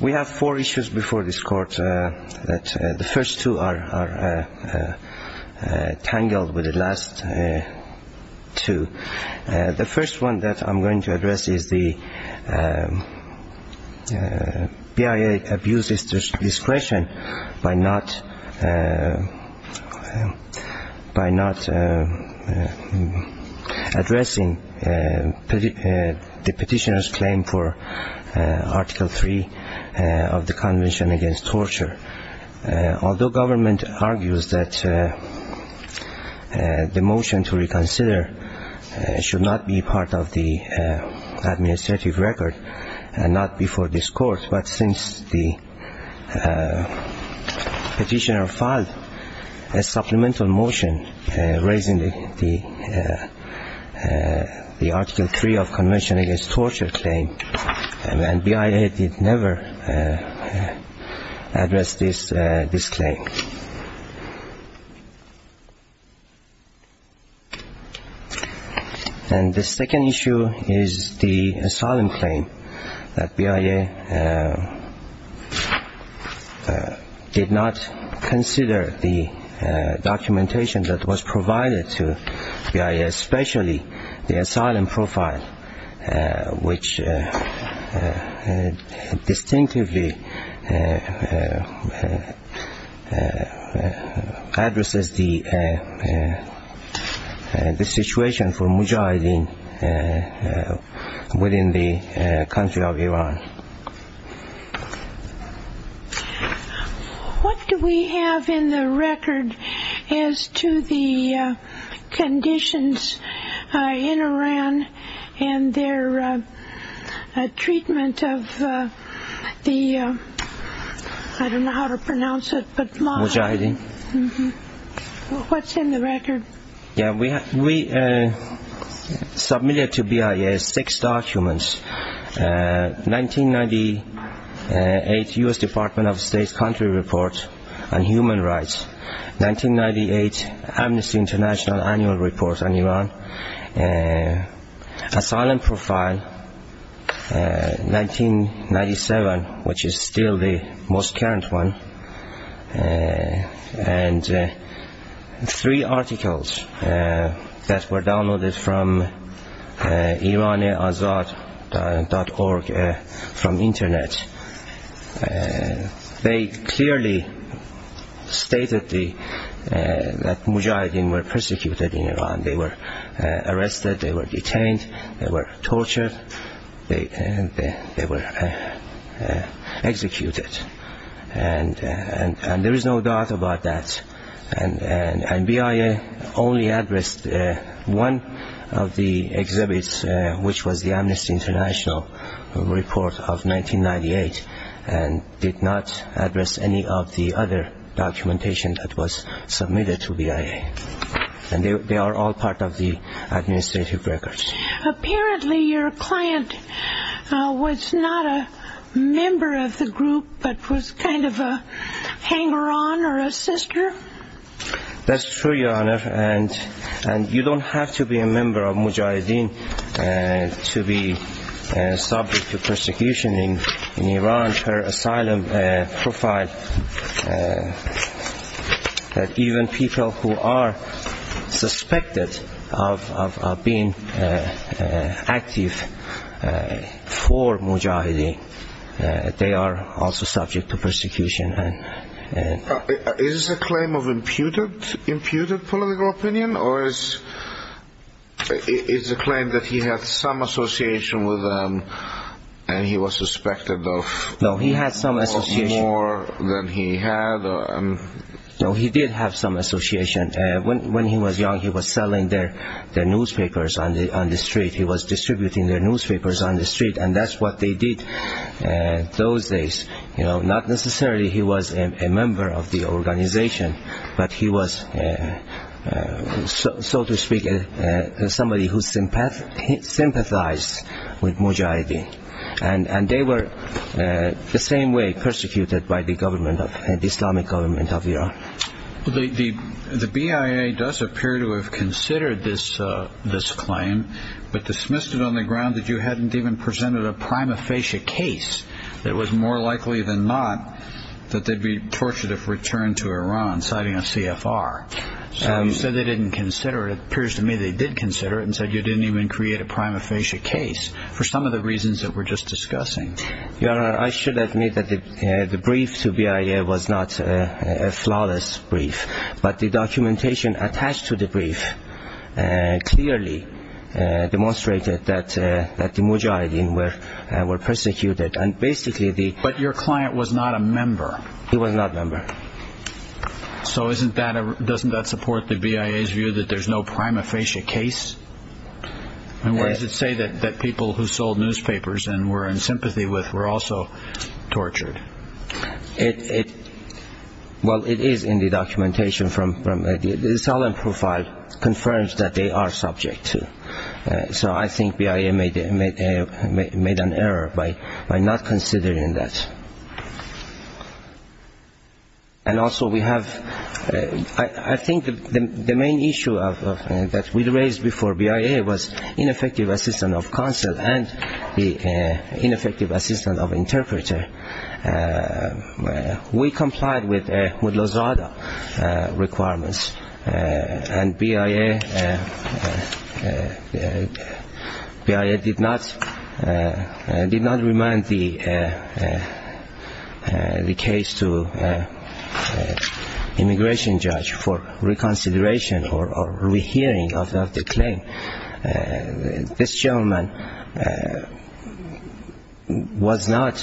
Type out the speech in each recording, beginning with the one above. We have four issues before this court. The first two are tangled with the last two. The first one that I'm going to address is the BIA abuses discretion by not addressing the petitioner's claim for Article 3 of the Convention Against Torture. Although government argues that the motion to reconsider should not be part of the administrative record and not before this court, but since the petitioner filed a supplemental motion raising the Article 3 of the Convention Against Torture claim, BIA did never address this claim. And the second issue is the asylum claim that BIA did not consider the documentation that was provided to BIA, especially the asylum profile, which distinctively addresses the situation for Mujahideen within the country of Iran. What do we have in the record as to the conditions in Iran and their treatment of the, I don't know how to pronounce it, Mujahideen? What's in the record? We submitted to BIA six documents, 1998 U.S. Department of State's country report on human rights, 1998 Amnesty International annual report on Iran, asylum profile, 1997, which is still the most current one, and three articles. That were downloaded from iraniazad.org from internet. They clearly stated that Mujahideen were persecuted in Iran. They were arrested, they were detained, they were tortured, they were executed. And there is no doubt about that. And BIA only addressed one of the exhibits, which was the Amnesty International report of 1998, and did not address any of the other documentation that was submitted to BIA. And they are all part of the administrative records. Apparently your client was not a member of the group, but was kind of a hanger-on or a sister? That's true, your honor. And you don't have to be a member of Mujahideen to be subject to persecution in Iran per asylum profile. Even people who are suspected of being active for Mujahideen, they are also subject to persecution. Is this a claim of imputed political opinion? Or is it a claim that he had some association with them and he was suspected of more than he had? No, he did have some association. When he was young, he was selling their newspapers on the street. He was distributing their newspapers on the street, and that's what they did those days. Not necessarily he was a member of the organization, but he was, so to speak, somebody who sympathized with Mujahideen. And they were the same way persecuted by the Islamic government of Iran. The BIA does appear to have considered this claim, but dismissed it on the ground that you hadn't even presented a prima facie case that was more likely than not that they'd be tortured if returned to Iran, citing a CFR. So you said they didn't consider it. It appears to me they did consider it and said you didn't even create a prima facie case for some of the reasons that we're just discussing. Your honor, I should admit that the brief to BIA was not a flawless brief, but the documentation attached to the brief clearly demonstrated that the Mujahideen were persecuted. But your client was not a member. He was not a member. So doesn't that support the BIA's view that there's no prima facie case? And what does it say that people who sold newspapers and were in sympathy with were also tortured? Well, it is in the documentation. The asylum profile confirms that they are subject to. So I think BIA made an error by not considering that. And also we have, I think the main issue that we raised before BIA was ineffective assistance of counsel and the ineffective assistance of interpreter. We complied with Lozada requirements and BIA did not remind the case to immigration judge for reconsideration or rehearing of the claim. This gentleman was not,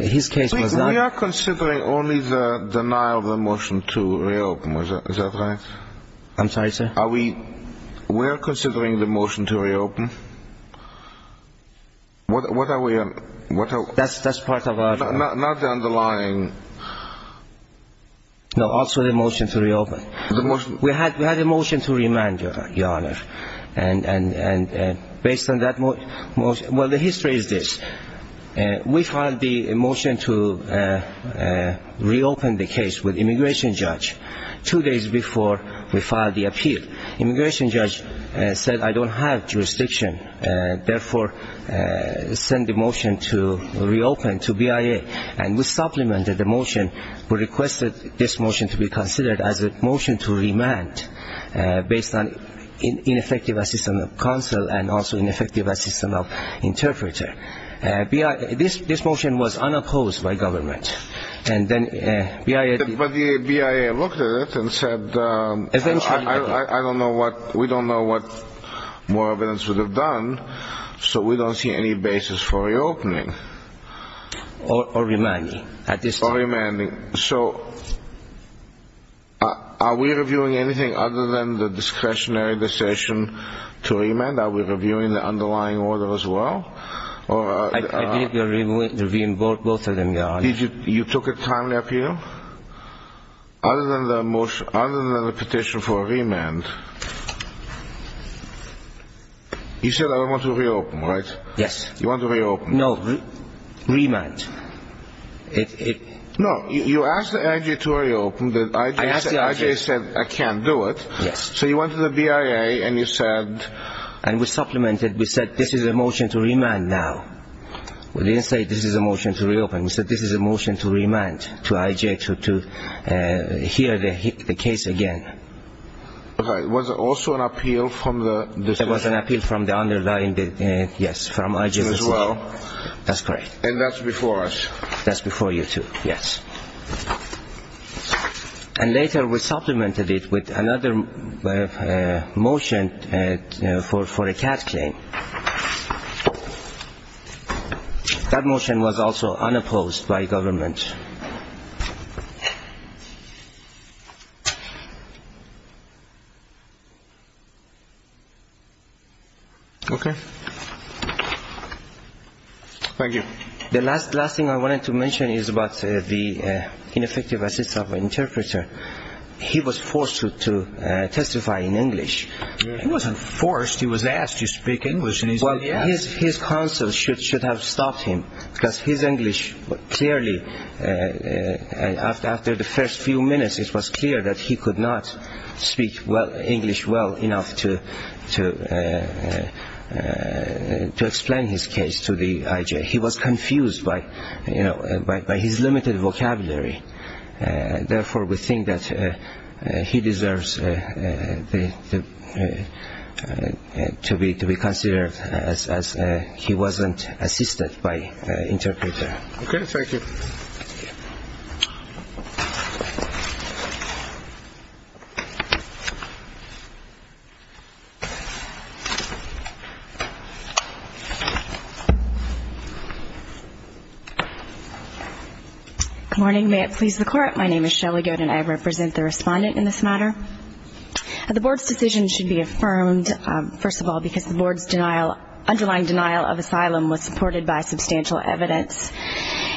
his case was not. We are considering only the denial of the motion to reopen. Is that right? I'm sorry, sir? We're considering the motion to reopen. What are we? That's part of our. No, also the motion to reopen. We had a motion to remand, Your Honor. And based on that motion, well, the history is this. We filed the motion to reopen the case with immigration judge two days before we filed the appeal. Immigration judge said, I don't have jurisdiction. Therefore, send the motion to reopen to BIA. And we supplemented the motion. We requested this motion to be considered as a motion to remand based on ineffective assistance of counsel and also ineffective assistance of interpreter. This motion was unopposed by government. But BIA looked at it and said, I don't know what, we don't know what more evidence would have done. So we don't see any basis for reopening. Or remanding at this time. Or remanding. So are we reviewing anything other than the discretionary decision to remand? Are we reviewing the underlying order as well? I believe we are reviewing both of them, Your Honor. You took a timely appeal? Other than the petition for a remand. You said I don't want to reopen, right? You want to reopen. No, remand. No, you asked IJ to reopen. IJ said, I can't do it. So you went to the BIA and you said... And we supplemented. We said, this is a motion to remand now. We didn't say, this is a motion to reopen. We said, this is a motion to remand to IJ to hear the case again. Was it also an appeal from the... That's correct. And that's before us. That's before you too, yes. And later we supplemented it with another motion for a CAT claim. That motion was also unopposed by government. Okay. Thank you. The last thing I wanted to mention is about the ineffective assist of interpreter. He was forced to testify in English. He wasn't forced. He was asked to speak English. His counsel should have stopped him because his English clearly, after the first few minutes, it was clear that he could not speak English well enough to explain his case. He was confused by his limited vocabulary. Therefore, we think that he deserves to be considered as he wasn't assisted by interpreter. Okay. Thank you. Good morning. May it please the Court. My name is Shelley Good and I represent the respondent in this matter. The Board's decision should be affirmed, first of all, because the Board's underlying denial of asylum was supported by substantial evidence.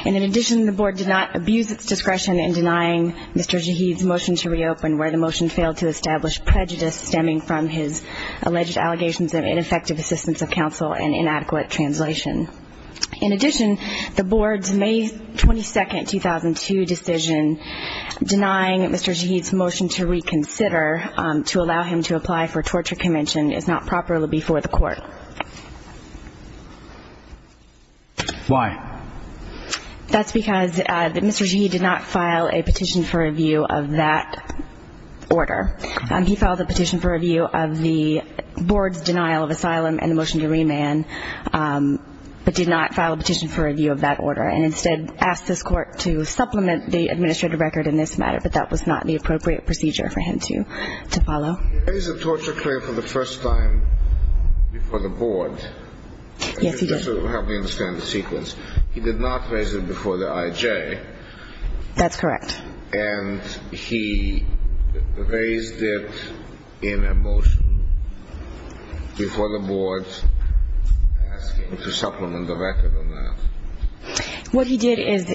And in addition, the Board did not abuse its discretion in denying Mr. Jaheed's motion to reopen where the motion failed to establish prejudice stemming from his alleged allegations of ineffective assistance of counsel and inadequate translation. In addition, the Board's May 22, 2002 decision denying Mr. Jaheed's motion to reconsider to allow him to apply for torture convention is not properly before the Court. Why? That's because Mr. Jaheed did not file a petition for review of that order. He filed a petition for review of the Board's denial of asylum and the motion to remand but did not file a petition for review of that order and instead asked this Court to supplement the administrative record in this matter, but that was not the appropriate procedure for him to follow. He raised the torture claim for the first time before the Board. Yes, he did. Just to help me understand the sequence, he did not raise it before the IJ. That's correct. And he raised it in a motion before the Board to supplement the record on that. What he did is,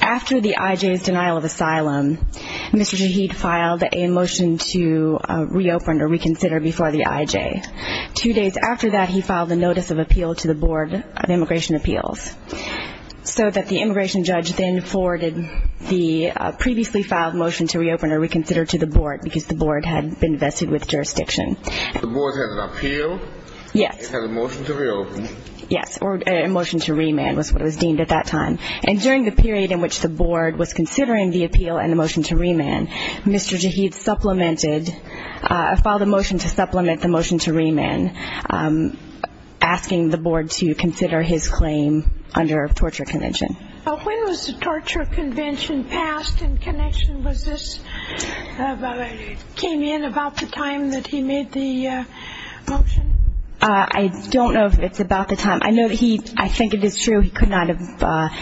after the IJ's denial of asylum, Mr. Jaheed filed a motion to reopen or reconsider before the IJ. Two days after that, he filed a notice of appeal to the Board of Immigration Appeals so that the immigration judge then forwarded the previously filed motion to reopen or reconsider to the Board because the Board had been vested with jurisdiction. The Board has an appeal? Yes. It has a motion to reopen? Yes, or a motion to remand was what it was deemed at that time. And during the period in which the Board was considering the appeal and the motion to remand, Mr. Jaheed filed a motion to supplement the motion to remand, asking the Board to consider his claim under torture convention. When was the torture convention passed in connection with this? It came in about the time that he made the motion? I don't know if it's about the time. I think it is true he could not have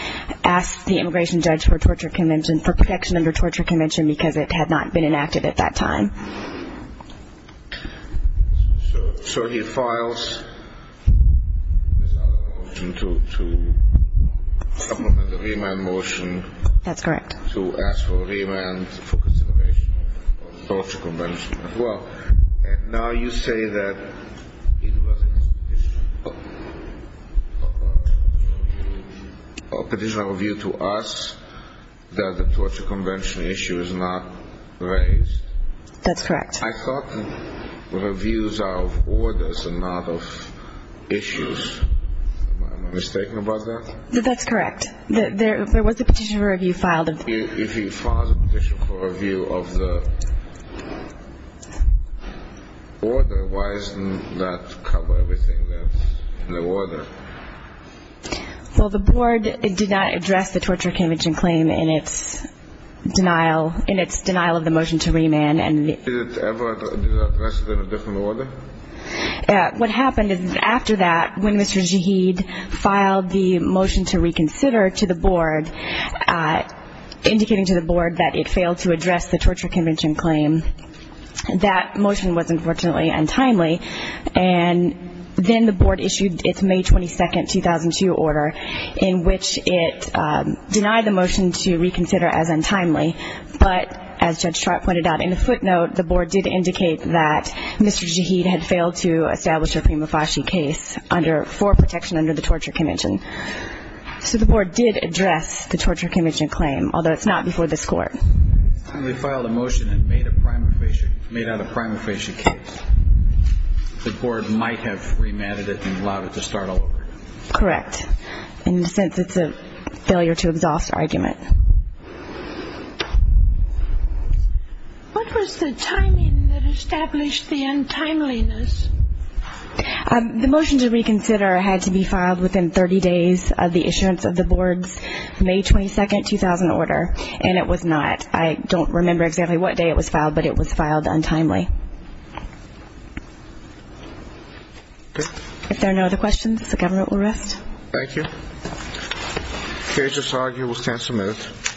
asked the immigration judge for protection under torture convention because it had not been enacted at that time. So he files this other motion to supplement the remand motion. That's correct. To ask for remand for consideration of the torture convention as well. And now you say that it was a petition of a view to us that the torture convention issue is not raised. That's correct. I thought reviews are of orders and not of issues. Am I mistaken about that? That's correct. There was a petition for review filed. If he files a petition for review of the order, why doesn't that cover everything that's in the order? Well, the Board did not address the torture convention claim in its denial of the motion to remand. Did it ever address it in a different order? What happened is after that, when Mr. Zahid filed the motion to reconsider to the Board, indicating to the Board that it failed to address the torture convention claim, that motion was unfortunately untimely. And then the Board issued its May 22, 2002, order in which it denied the motion to reconsider as untimely. But as Judge Trott pointed out in the footnote, the Board did indicate that Mr. Zahid had failed to establish a prima facie case for protection under the torture convention. So the Board did address the torture convention claim, although it's not before this Court. And they filed a motion and made out a prima facie case. The Board might have remanded it and allowed it to start all over. Correct. In the sense it's a failure to exhaust argument. What was the timing that established the untimeliness? The motion to reconsider had to be filed within 30 days of the issuance of the Board's May 22, 2000, order. And it was not. I don't remember exactly what day it was filed, but it was filed untimely. Okay. If there are no other questions, the Government will rest. Thank you. The case is argued. We'll stand some minutes.